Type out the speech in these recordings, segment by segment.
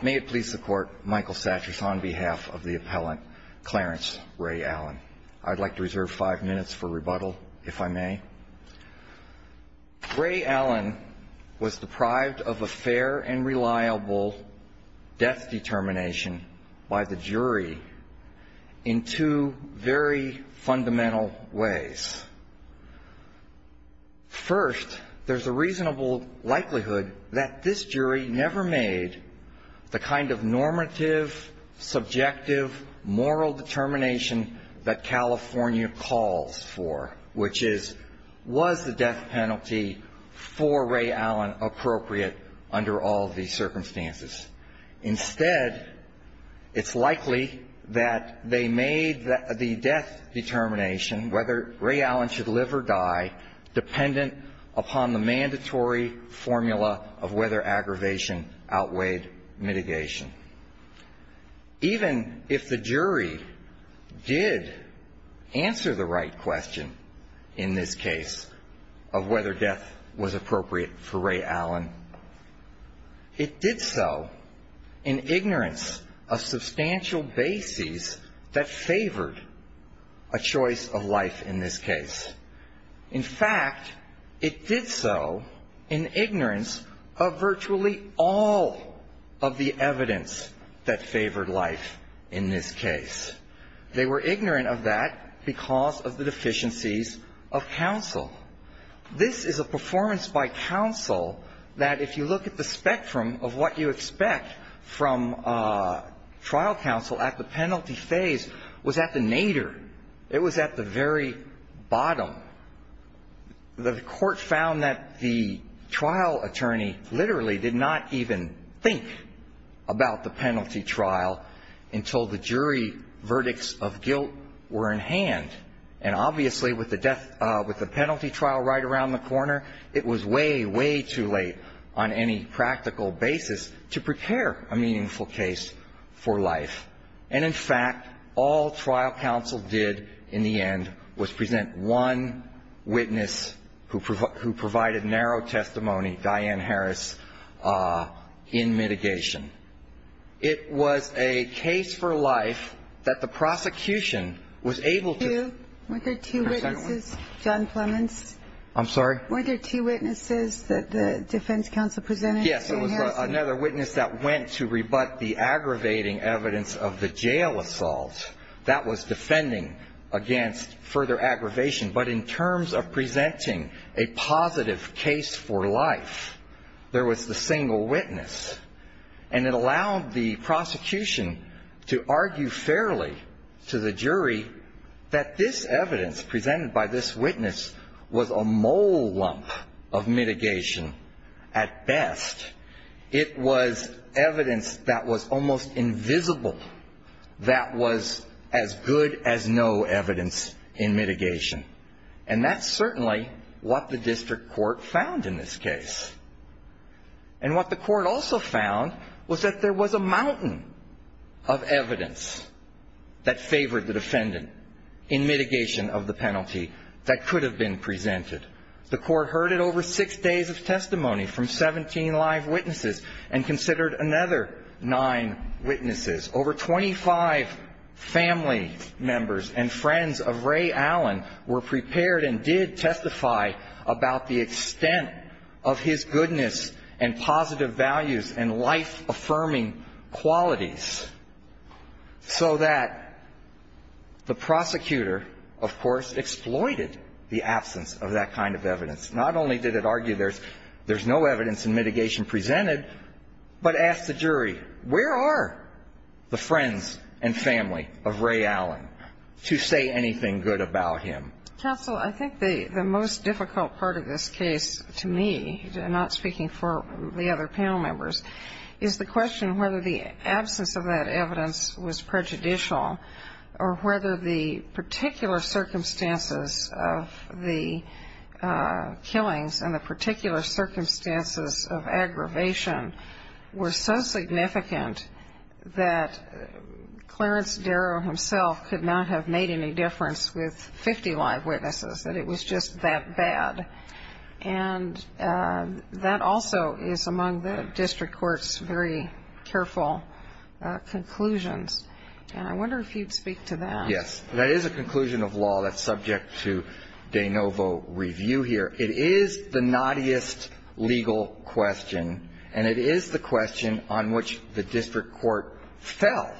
May it please the Court, Michael Satchers on behalf of the appellant, Clarence Ray Allen. I'd like to reserve five minutes for rebuttal, if I may. Ray Allen was deprived of a fair and reliable death determination by the jury in two very fundamental ways. First, there's a reasonable likelihood that this jury never made the kind of normative, subjective, moral determination that California calls for, which is, was the death penalty for Ray Allen appropriate under all of these circumstances? Instead, it's likely that they made the death determination, whether Ray Allen should live or die, dependent upon the mandatory formula of whether aggravation outweighed mitigation. Even if the jury did answer the right question in this case of whether death was appropriate for Ray Allen, it did so in ignorance of substantial bases that favored a choice of life in this case. In fact, it did so in ignorance of virtually all of the evidence that favored life in this case. They were ignorant of that because of the deficiencies of counsel. This is a performance by counsel that if you look at the spectrum of what you expect from trial counsel at the penalty phase, was at the nadir. It was at the very bottom. The Court found that the trial attorney literally did not even think about the penalty trial until the jury verdicts of guilt were in hand. And obviously, with the penalty trial right around the corner, it was way, way too late on any practical basis to prepare a meaningful case for life. And in fact, all trial counsel did in the end was present one witness who provided narrow testimony, Diane Harris, in mitigation. It was a case for life that the prosecution was able to present one. Were there two witnesses, John Plemons? I'm sorry? Were there two witnesses that the defense counsel presented? Yes, there was another witness that went to rebut the aggravating evidence of the jail assault. That was defending against further aggravation. But in terms of presenting a positive case for life, there was the single witness. And it allowed the prosecution to argue fairly to the jury that this evidence presented by this witness was a mole lump of mitigation at best. It was evidence that was almost invisible that was as good as no evidence in mitigation. And that's certainly what the district court found in this case. And what the court also found was that there was a mountain of evidence that favored the defendant in mitigation of the penalty that could have been presented. The court heard it over six days of testimony from 17 live witnesses and considered another nine witnesses. Over 25 family members and friends of Ray Allen were prepared and did testify about the extent of his goodness and positive values and life-affirming qualities. So that the prosecutor, of course, exploited the absence of that kind of evidence. Not only did it argue there's no evidence in mitigation presented, but asked the jury where are the friends and family of Ray Allen to say anything good about him. Counsel, I think the most difficult part of this case to me, not speaking for the other panel members, is the question whether the absence of that evidence was prejudicial or whether the particular circumstances of the killings and the particular circumstances of aggravation were so significant that Clarence Darrow himself could not have made any difference with 50 live witnesses, that it was just that bad. And that also is among the district court's very careful conclusions. And I wonder if you'd speak to that. Yes. That is a conclusion of law that's subject to de novo review here. It is the naughtiest legal question, and it is the question on which the district court fell.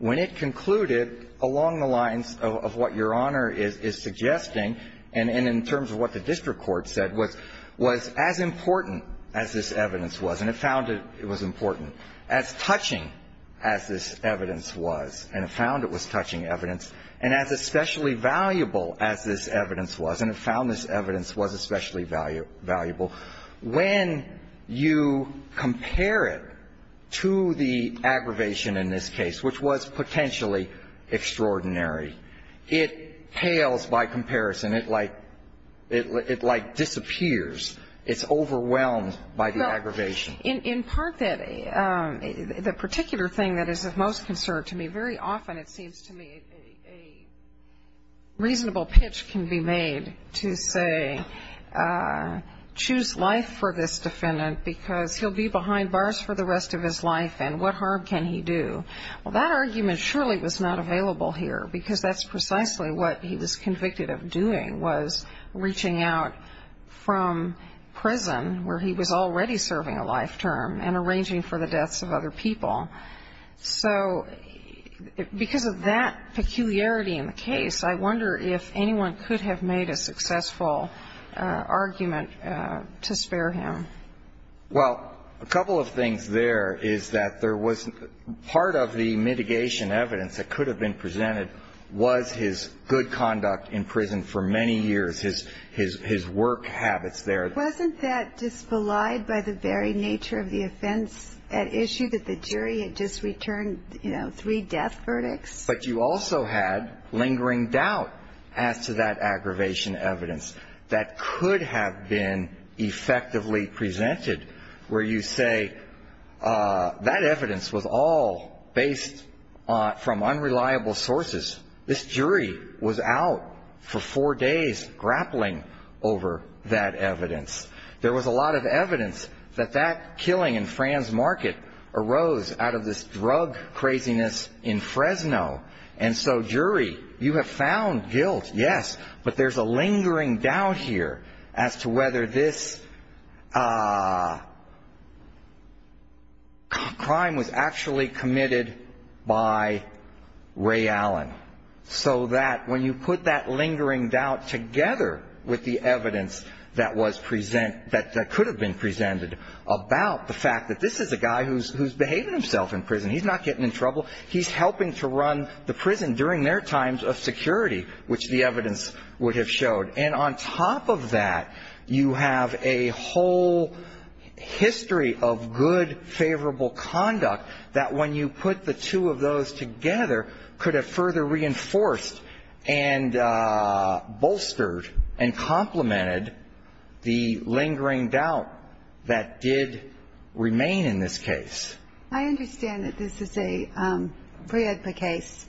When it concluded along the lines of what Your Honor is suggesting, and in terms of what the district court said, was as important as this evidence was, and it found it was important, as touching as this evidence was, and it found it was touching evidence, and as especially valuable as this evidence was, and it found this evidence was especially valuable. When you compare it to the aggravation in this case, which was potentially extraordinary, it pales by comparison. It like disappears. It's overwhelmed by the aggravation. In part, the particular thing that is of most concern to me, very often it seems to me a reasonable pitch can be made to say, choose life for this defendant because he'll be behind bars for the rest of his life, and what harm can he do? Well, that argument surely was not available here, because that's precisely what he was convicted of doing was reaching out from prison where he was already serving a life term and arranging for the deaths of other people. So because of that peculiarity in the case, I wonder if anyone could have made a successful argument to spare him. Well, a couple of things there is that there was part of the mitigation evidence that could have been presented was his good conduct in prison for many years, his work habits there. Wasn't that disvalide by the very nature of the offense at issue, that the jury had just returned, you know, three death verdicts? But you also had lingering doubt as to that aggravation evidence that could have been effectively presented, where you say that evidence was all based from unreliable sources. This jury was out for four days grappling over that evidence. There was a lot of evidence that that killing in Franz Market arose out of this drug craziness in Fresno. And so, jury, you have found guilt, yes, but there's a lingering doubt here as to whether this crime was actually committed by Ray Allen. So that when you put that lingering doubt together with the evidence that was present, that could have been presented about the fact that this is a guy who's behaving himself in prison. He's not getting in trouble. He's helping to run the prison during their times of security, which the evidence would have showed. And on top of that, you have a whole history of good, favorable conduct that when you put the two of those together could have further reinforced and bolstered and complemented the lingering doubt that did remain in this case. I understand that this is a pre-EDPA case.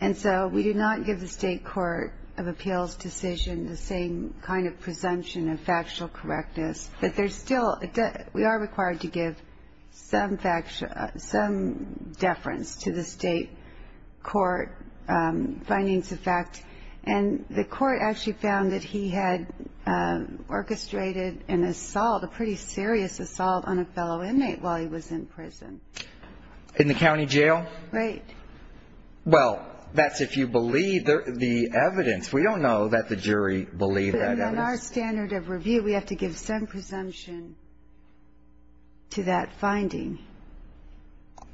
And so we do not give the State Court of Appeals decision the same kind of presumption of factual correctness. We are required to give some deference to the state court findings of fact. And the court actually found that he had orchestrated an assault, a pretty serious assault, on a fellow inmate while he was in prison. In the county jail? Right. Well, that's if you believe the evidence. We don't know that the jury believed that evidence. On our standard of review, we have to give some presumption to that finding.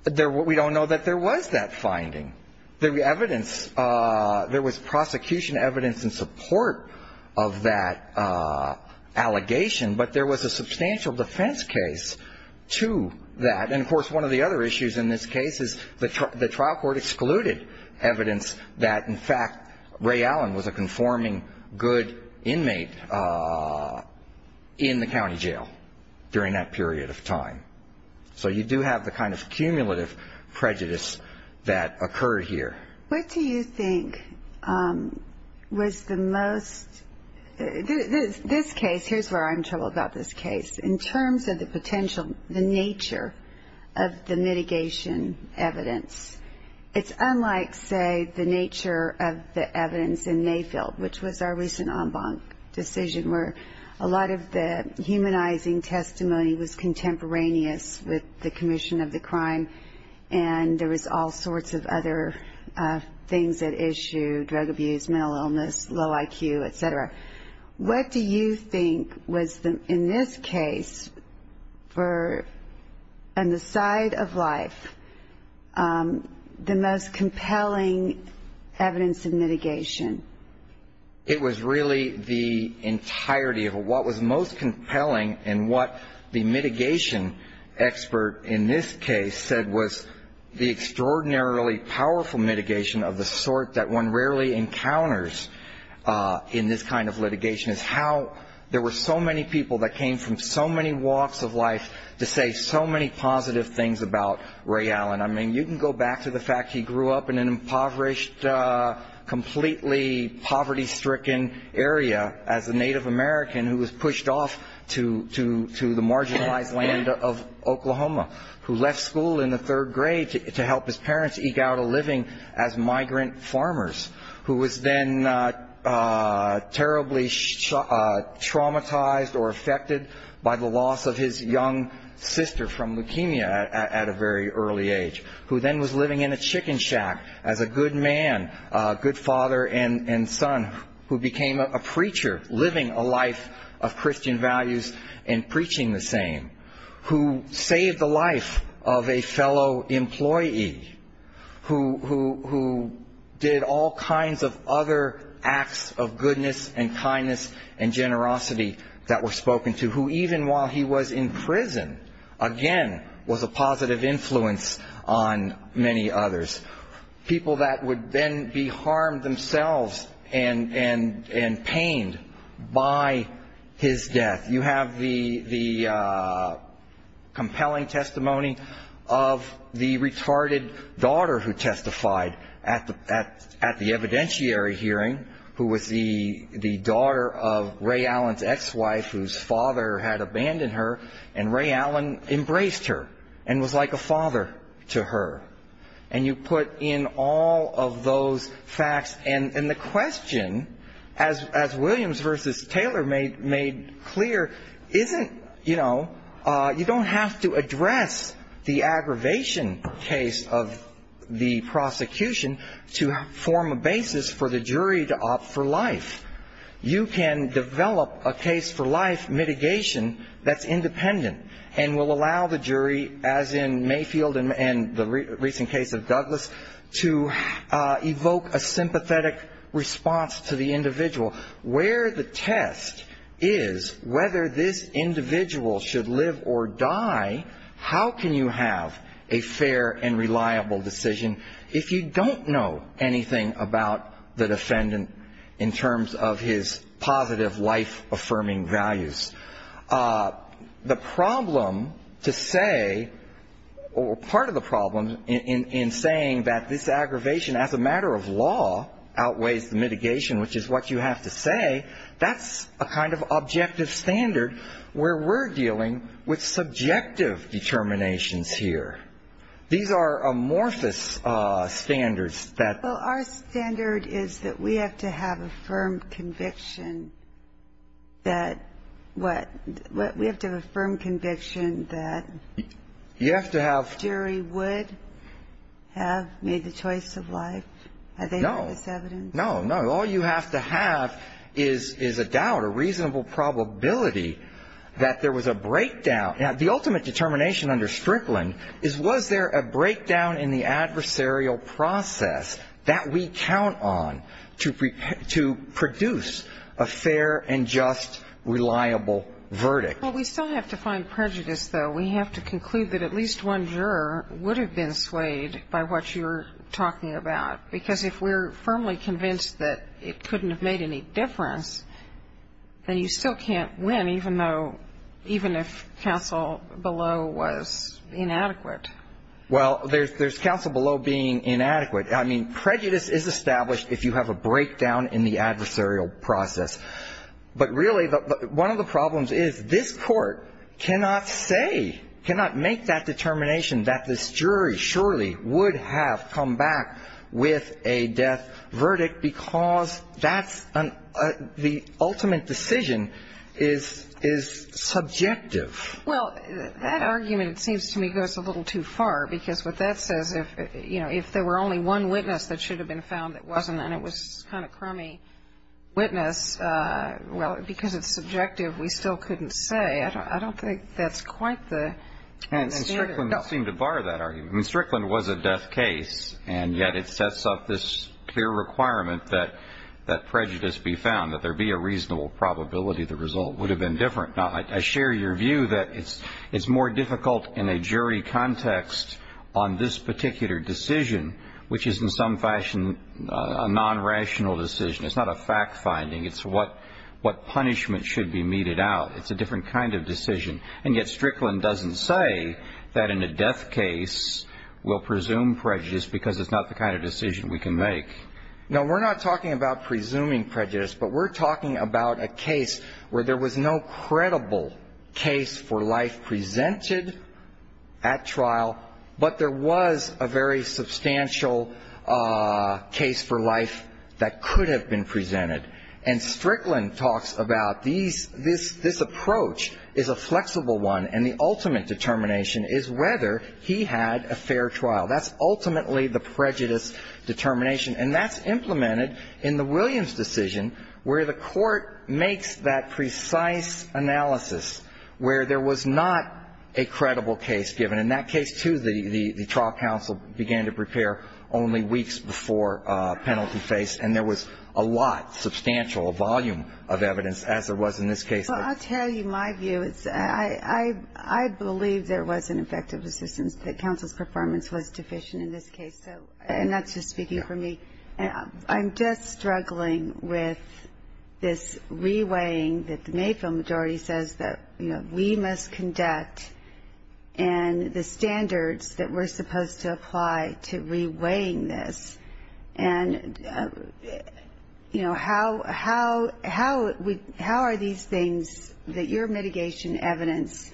We don't know that there was that finding. There was prosecution evidence in support of that allegation, but there was a substantial defense case to that. And, of course, one of the other issues in this case is the trial court excluded evidence that, in fact, Ray Allen was a conforming good inmate in the county jail during that period of time. So you do have the kind of cumulative prejudice that occurred here. What do you think was the most – this case, here's where I'm in trouble about this case. In terms of the potential, the nature of the mitigation evidence, it's unlike, say, the nature of the evidence in Mayfield, which was our recent en banc decision where a lot of the humanizing testimony was contemporaneous with the commission of the crime and there was all sorts of other things at issue, drug abuse, mental illness, low IQ, et cetera. What do you think was, in this case, on the side of life, the most compelling evidence of mitigation? It was really the entirety of it. What was most compelling and what the mitigation expert in this case said was the extraordinarily powerful mitigation of the sort that one rarely encounters in this kind of litigation is how there were so many people that came from so many walks of life to say so many positive things about Ray Allen. I mean, you can go back to the fact he grew up in an impoverished, completely poverty-stricken area as a Native American who was pushed off to the marginalized land of Oklahoma, who left school in the third grade to help his parents eke out a living as migrant farmers, who was then terribly traumatized or affected by the loss of his young sister from leukemia at a very early age, who then was living in a chicken shack as a good man, a good father and son, who became a preacher living a life of Christian values and preaching the same, who saved the life of a fellow employee, who did all kinds of other acts of goodness and kindness and generosity that were spoken to, who even while he was in prison, again, was a positive influence on many others, people that would then be harmed themselves and pained by his death. You have the compelling testimony of the retarded daughter who testified at the evidentiary hearing, who was the daughter of Ray Allen's ex-wife whose father had abandoned her, and Ray Allen embraced her and was like a father to her. And you put in all of those facts, and the question, as Williams versus Taylor made clear, isn't, you know, you don't have to address the aggravation case of the prosecution to form a basis for the jury to opt for life. You can develop a case for life mitigation that's independent and will allow the jury, as in Mayfield and the recent case of Douglas, to evoke a sympathetic response to the individual. Where the test is whether this individual should live or die, how can you have a fair and reliable decision if you don't know anything about the defendant in terms of his positive life-affirming values? The problem to say, or part of the problem in saying that this aggravation, as a matter of law, outweighs the mitigation, which is what you have to say, that's a kind of objective standard where we're dealing with subjective determinations here. These are amorphous standards. Well, our standard is that we have to have a firm conviction that what? We have to have a firm conviction that jury would have made the choice of life. No. Have they heard this evidence? No, no. All you have to have is a doubt, a reasonable probability that there was a breakdown. Now, the ultimate determination under Strickland is was there a breakdown in the adversarial process that we count on to produce a fair and just, reliable verdict? Well, we still have to find prejudice, though. We have to conclude that at least one juror would have been swayed by what you're talking about, because if we're firmly convinced that it couldn't have made any difference, then you still can't win, even if counsel below was inadequate. Well, there's counsel below being inadequate. I mean, prejudice is established if you have a breakdown in the adversarial process. But really, one of the problems is this Court cannot say, cannot make that determination that this jury surely would have come back with a death verdict, because that's the ultimate decision is subjective. Well, that argument, it seems to me, goes a little too far, because what that says, if there were only one witness that should have been found that wasn't, and it was kind of crummy witness, well, because it's subjective, we still couldn't say. I don't think that's quite the standard. I mean, Strickland seemed to bar that argument. I mean, Strickland was a death case, and yet it sets up this clear requirement that prejudice be found, that there be a reasonable probability the result would have been different. Now, I share your view that it's more difficult in a jury context on this particular decision, which is in some fashion a non-rational decision. It's not a fact-finding. It's what punishment should be meted out. It's a different kind of decision. And yet Strickland doesn't say that in a death case we'll presume prejudice because it's not the kind of decision we can make. No, we're not talking about presuming prejudice, but we're talking about a case where there was no credible case for life presented at trial, but there was a very substantial case for life that could have been presented. And Strickland talks about this approach is a flexible one, and the ultimate determination is whether he had a fair trial. That's ultimately the prejudice determination, and that's implemented in the Williams decision where the court makes that precise analysis where there was not a credible case given. In that case, too, the trial counsel began to prepare only weeks before penalty face, and there was a lot, substantial volume of evidence as there was in this case. Well, I'll tell you my view. I believe there was an effective assistance, that counsel's performance was deficient in this case. And that's just speaking for me. I'm just struggling with this reweighing that the Mayfield majority says that, you know, we must conduct and the standards that we're supposed to apply to reweighing this. And, you know, how are these things that your mitigation evidence,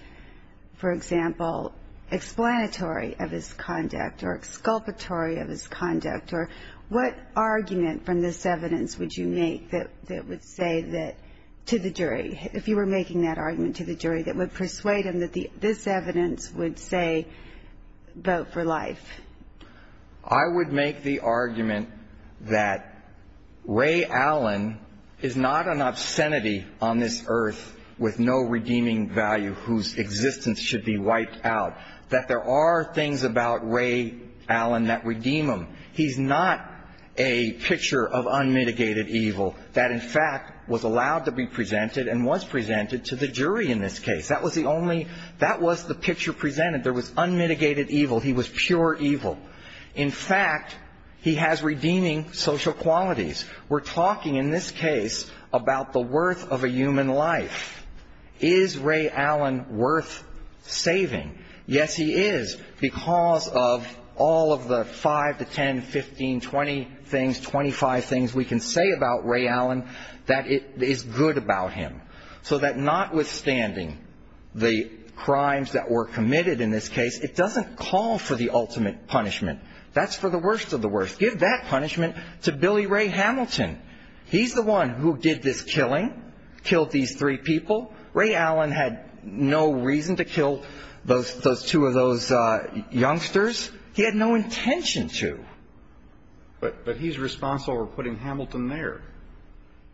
for example, explanatory of his conduct or exculpatory of his conduct or what argument from this evidence would you make that would say that to the jury, if you were making that argument to the jury, that would persuade him that this evidence would say vote for life? I would make the argument that Ray Allen is not an obscenity on this earth with no redeeming value whose existence should be wiped out, that there are things about Ray Allen that redeem him. He's not a picture of unmitigated evil that, in fact, was allowed to be presented and was presented to the jury in this case. That was the only – that was the picture presented. There was unmitigated evil. He was pure evil. In fact, he has redeeming social qualities. We're talking in this case about the worth of a human life. Is Ray Allen worth saving? Yes, he is because of all of the 5 to 10, 15, 20 things, 25 things we can say about Ray Allen that is good about him so that notwithstanding the crimes that were committed in this case, it doesn't call for the ultimate punishment. That's for the worst of the worst. Give that punishment to Billy Ray Hamilton. He's the one who did this killing, killed these three people. Ray Allen had no reason to kill those two of those youngsters. He had no intention to. But he's responsible for putting Hamilton there.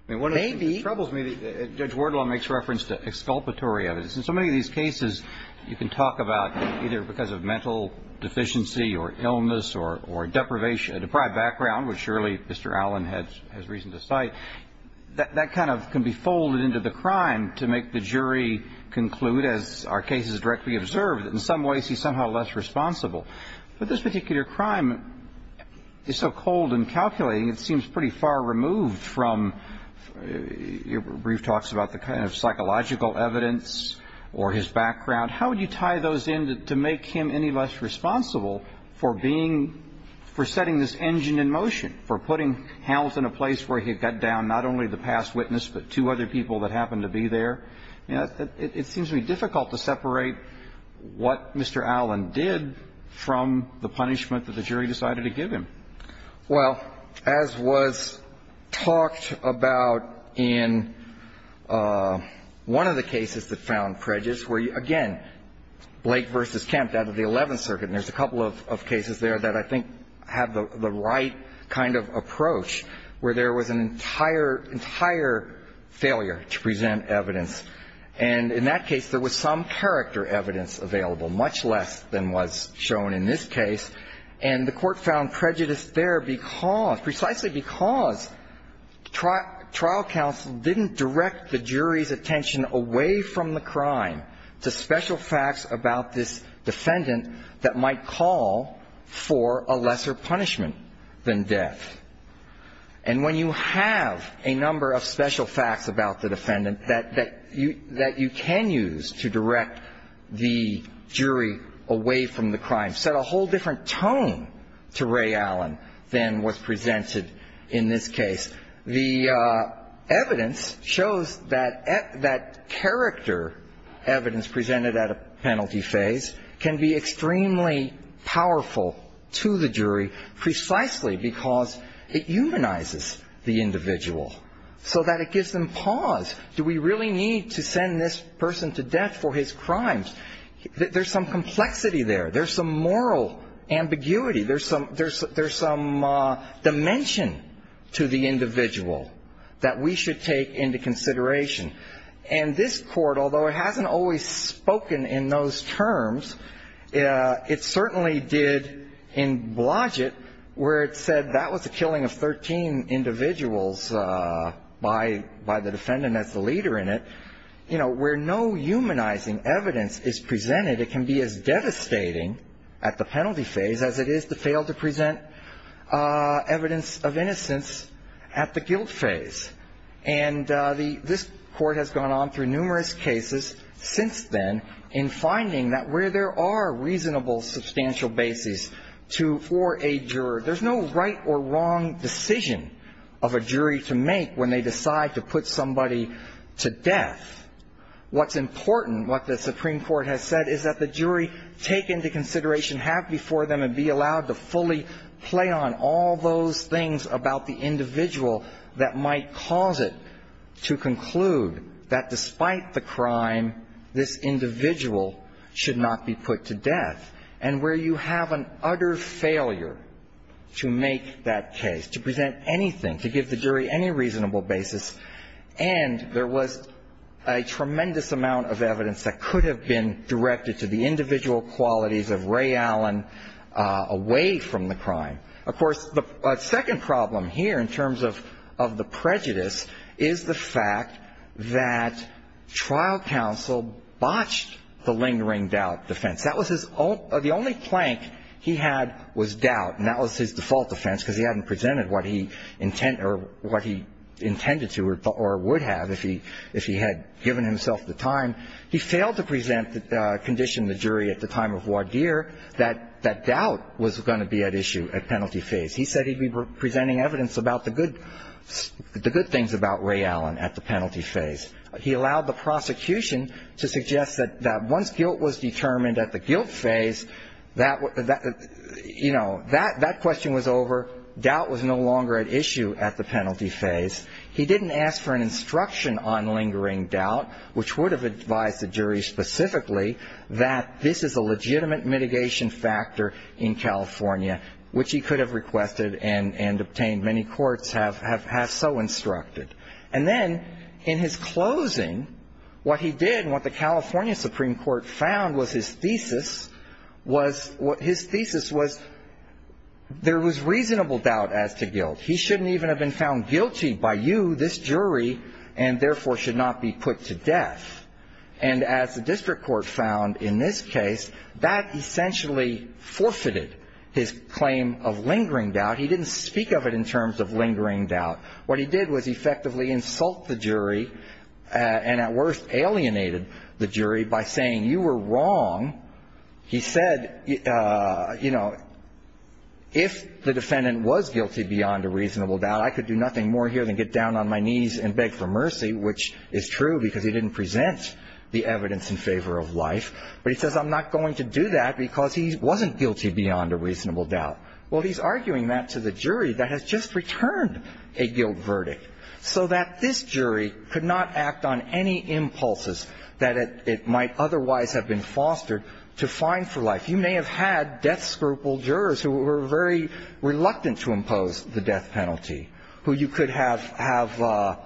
Maybe. It troubles me that Judge Wardlaw makes reference to exculpatory evidence. In so many of these cases, you can talk about either because of mental deficiency or illness or deprivation, a deprived background, which surely Mr. Allen has reason to cite. That kind of can be folded into the crime to make the jury conclude, as our cases directly observe, that in some ways he's somehow less responsible. But this particular crime is so cold and calculating, it seems pretty far removed from your brief talks about the kind of psychological evidence or his background. How would you tie those in to make him any less responsible for being, for setting this engine in motion, for putting Hamilton in a place where he got down not only the past witness but two other people that happened to be there? It seems to be difficult to separate what Mr. Allen did from the punishment that the jury decided to give him. Well, as was talked about in one of the cases that found prejudice, where, again, Blake v. Kemp, that of the Eleventh Circuit, and there's a couple of cases there that I think have the right kind of approach, where there was an entire, entire failure to present evidence. And in that case, there was some character evidence available, much less than was shown in this case. And the Court found prejudice there because, precisely because trial counsel didn't direct the jury's attention away from the crime to special facts about this defendant that might call for a lesser punishment than death. And when you have a number of special facts about the defendant that you can use to direct the jury away from the crime, set a whole different tone to Ray Allen than was presented in this case. The evidence shows that character evidence presented at a penalty phase can be extremely powerful to the jury, precisely because it humanizes the individual so that it gives them pause. Do we really need to send this person to death for his crimes? There's some complexity there. There's some moral ambiguity. There's some dimension to the individual that we should take into consideration. And this Court, although it hasn't always spoken in those terms, it certainly did in Blodgett, where it said that was the killing of 13 individuals by the defendant as the leader in it, where no humanizing evidence is presented, it can be as devastating at the penalty phase as it is to fail to present evidence of innocence at the guilt phase. And this Court has gone on through numerous cases since then in finding that where there are reasonable, substantial bases for a juror, there's no right or wrong decision of a jury to make when they decide to put somebody to death. What's important, what the Supreme Court has said, is that the jury take into consideration, have before them and be allowed to fully play on all those things about the individual that might cause it to conclude that despite the crime, this individual should not be put to death. And where you have an utter failure to make that case, to present anything, to give the jury any reasonable basis, and there was a tremendous amount of evidence that could have been directed to the individual qualities of Ray Allen away from the crime. Of course, the second problem here in terms of the prejudice is the fact that trial counsel botched the lingering doubt defense. The only plank he had was doubt, and that was his default defense because he hadn't presented what he intended to or would have if he had given himself the time. He failed to condition the jury at the time of Wadir that doubt was going to be at issue at penalty phase. He said he'd be presenting evidence about the good things about Ray Allen at the penalty phase. He allowed the prosecution to suggest that once guilt was determined at the guilt phase, that question was over, doubt was no longer at issue at the penalty phase. He didn't ask for an instruction on lingering doubt, which would have advised the jury specifically that this is a legitimate mitigation factor in California, which he could have requested and obtained many courts have so instructed. And then in his closing, what he did and what the California Supreme Court found was his thesis was there was reasonable doubt as to guilt. He shouldn't even have been found guilty by you, this jury, and therefore should not be put to death. And as the district court found in this case, that essentially forfeited his claim of lingering doubt. He didn't speak of it in terms of lingering doubt. What he did was effectively insult the jury and at worst alienated the jury by saying you were wrong. He said, you know, if the defendant was guilty beyond a reasonable doubt, I could do nothing more here than get down on my knees and beg for mercy, which is true because he didn't present the evidence in favor of life. But he says I'm not going to do that because he wasn't guilty beyond a reasonable doubt. Well, he's arguing that to the jury that has just returned a guilt verdict. So that this jury could not act on any impulses that it might otherwise have been fostered to find for life. You may have had death scruple jurors who were very reluctant to impose the death penalty, who you could have have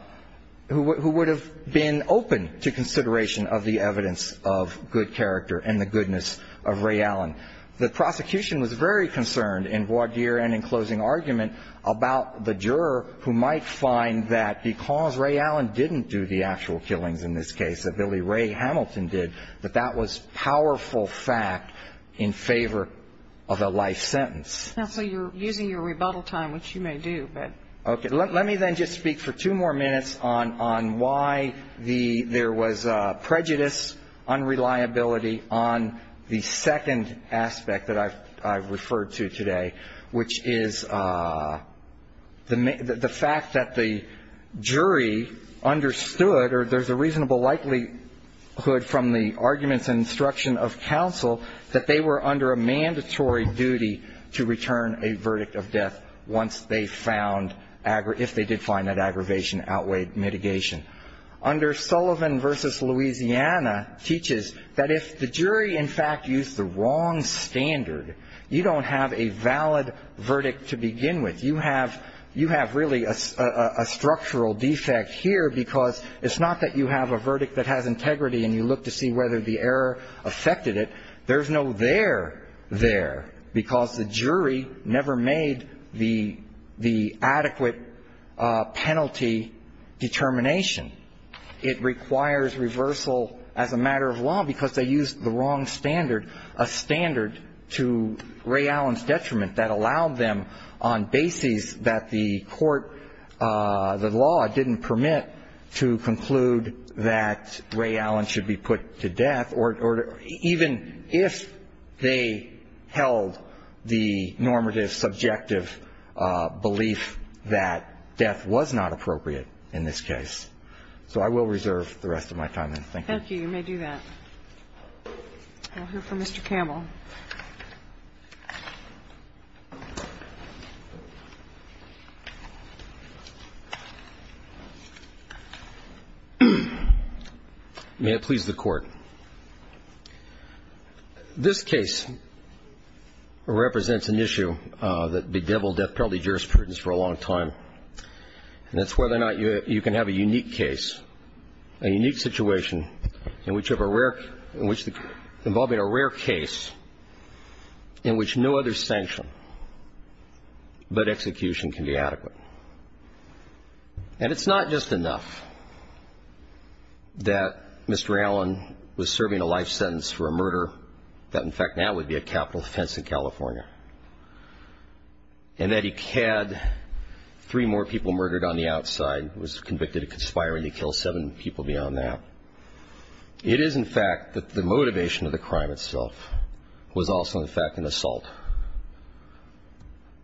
who would have been open to consideration of the evidence of good character and the goodness of Ray Allen. The prosecution was very concerned in voir dire and in closing argument about the juror who might find that because Ray Allen didn't do the actual killings in this case, that Billy Ray Hamilton did, that that was powerful fact in favor of a life sentence. Counsel, you're using your rebuttal time, which you may do, but. Okay. Let me then just speak for two more minutes on why there was prejudice, unreliability on the second aspect that I've referred to today, which is the fact that the jury understood, or there's a reasonable likelihood from the arguments and instruction of counsel, that they were under a mandatory duty to return a verdict of death once they found, if they did find that aggravation outweighed mitigation. Under Sullivan v. Louisiana teaches that if the jury in fact used the wrong standard, you don't have a valid verdict to begin with. You have really a structural defect here because it's not that you have a verdict that has integrity and you look to see whether the error affected it. There's no there there because the jury never made the adequate penalty determination. It requires reversal as a matter of law because they used the wrong standard, a standard to Ray Allen's detriment that allowed them on bases that the court, the law didn't permit, to conclude that Ray Allen should be put to death or even if they held the normative subjective belief that death was not appropriate in this case. So I will reserve the rest of my time. Thank you. Thank you. You may do that. We'll hear from Mr. Campbell. May it please the Court. This case represents an issue that bedeviled death penalty jurisprudence for a long time, and that's whether or not you can have a unique case, a unique situation in which you have a rare, in which involving a rare case, in which no other sanction but execution can be adequate. And it's not just enough that Mr. Allen was serving a life sentence for a murder that, in fact, now would be a capital offense in California, and that he had three more people murdered on the outside, was convicted of conspiring to kill seven people beyond that. It is, in fact, that the motivation of the crime itself was also, in fact, an assault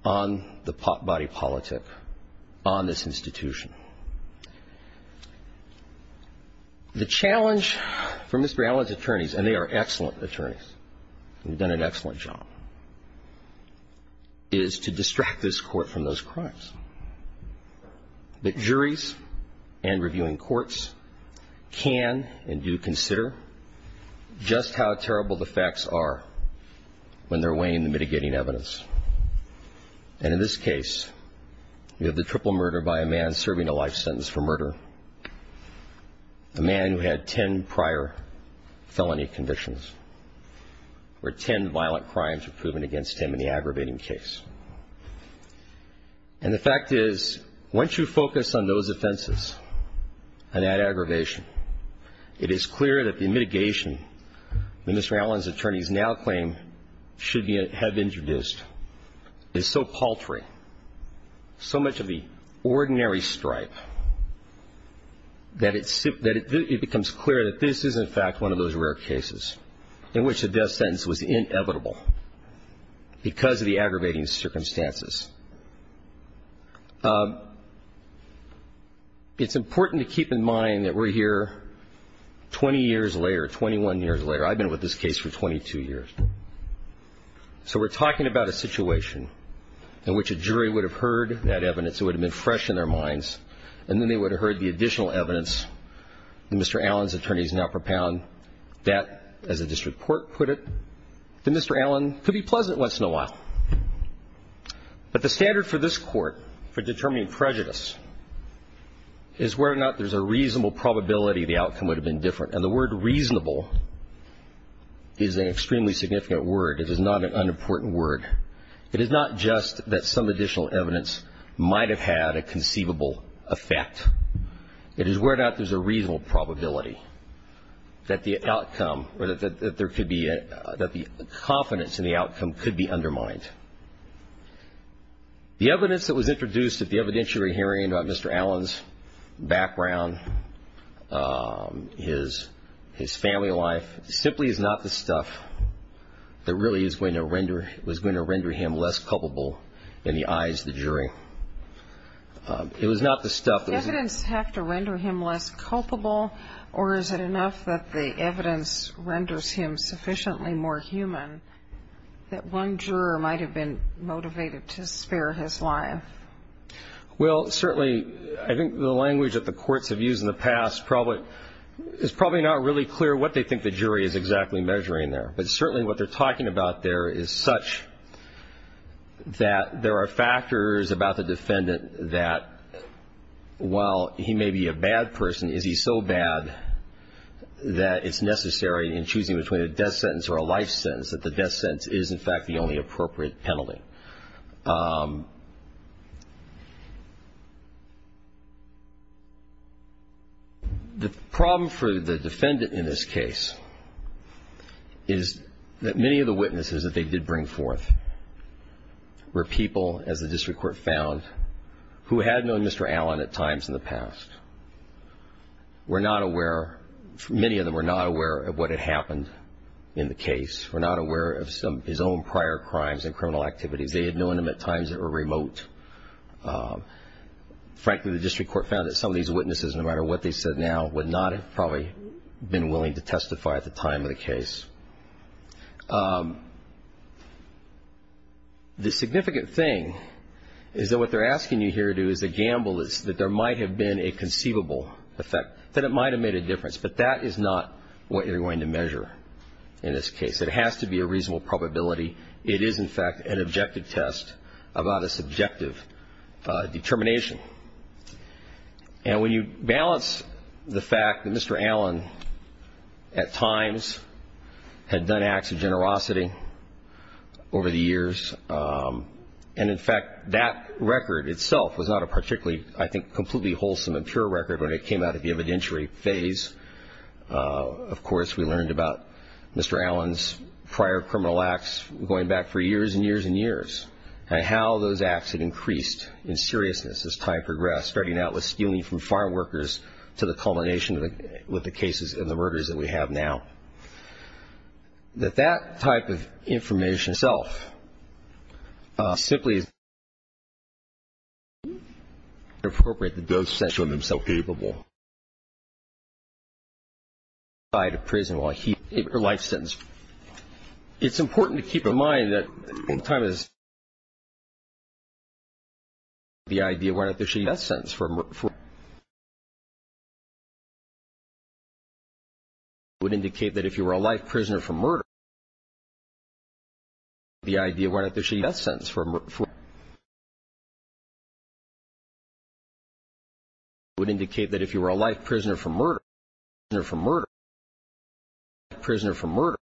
on the body politic on this institution. The challenge for Mr. Allen's attorneys, and they are excellent attorneys and have done an excellent job, is to distract this Court from those crimes. But juries and reviewing courts can and do consider just how terrible the facts are when they're weighing the mitigating evidence. And in this case, you have the triple murder by a man serving a life sentence for murder, a man who had ten prior felony conditions, where ten violent crimes were proven against him in the aggravating case. And the fact is, once you focus on those offenses and that aggravation, it is clear that the mitigation that Mr. Allen's attorneys now claim should have been introduced is so paltry, so much of the ordinary stripe, that it becomes clear that this is, in fact, one of those rare cases in which the death sentence was inevitable because of the aggravating circumstances. It's important to keep in mind that we're here 20 years later, 21 years later. I've been with this case for 22 years. So we're talking about a situation in which a jury would have heard that evidence, it would have been fresh in their minds, and then they would have heard the additional evidence that Mr. Allen's attorneys now propound that, as the district court put it, that Mr. Allen could be pleasant once in a while. But the standard for this Court for determining prejudice is whether or not there's a reasonable probability the outcome would have been different. And the word reasonable is an extremely significant word. It is not an unimportant word. It is not just that some additional evidence might have had a conceivable effect. It is whether or not there's a reasonable probability that the outcome or that the confidence in the outcome could be undermined. The evidence that was introduced at the evidentiary hearing about Mr. Allen's background, his family life, simply is not the stuff that really was going to render him less culpable in the eyes of the jury. It was not the stuff that was going to render him less culpable, or is it enough that the evidence renders him sufficiently more human that one juror might have been motivated to spare his life? Well, certainly I think the language that the courts have used in the past is probably not really clear what they think the jury is exactly measuring there. But certainly what they're talking about there is such that there are factors about the defendant that while he may be a bad person, is he so bad that it's necessary in choosing between a death sentence or a life sentence that the death sentence is, in fact, the only appropriate penalty? The problem for the defendant in this case is that many of the witnesses that they did bring forth were people, as the district court found, who had known Mr. Allen at times in the past. Many of them were not aware of what had happened in the case, were not aware of his own prior crimes and criminal activities. They had known him at times that were remote. Frankly, the district court found that some of these witnesses, no matter what they said now, would not have probably been willing to testify at the time of the case. The significant thing is that what they're asking you here to do is a gamble that there might have been a conceivable effect, that it might have made a difference, but that is not what you're going to measure in this case. It has to be a reasonable probability. It is, in fact, an objective test about a subjective determination. And when you balance the fact that Mr. Allen at times had done acts of generosity over the years and, in fact, that record itself was not a particularly, I think, completely wholesome and pure record when it came out of the evidentiary phase. Of course, we learned about Mr. Allen's prior criminal acts going back for years and years and years and how those acts had increased in seriousness as time progressed, starting out with stealing from farm workers to the culmination with the cases and the murders that we have now. That that type of information itself simply is not appropriate. It does not show himself capable. It's important to keep in mind that at the time of this testimony, the idea why not issue a death sentence for murder would indicate that if you were a life prisoner for murder, the idea why not issue a death sentence for murder would indicate that if you were a life prisoner for murder,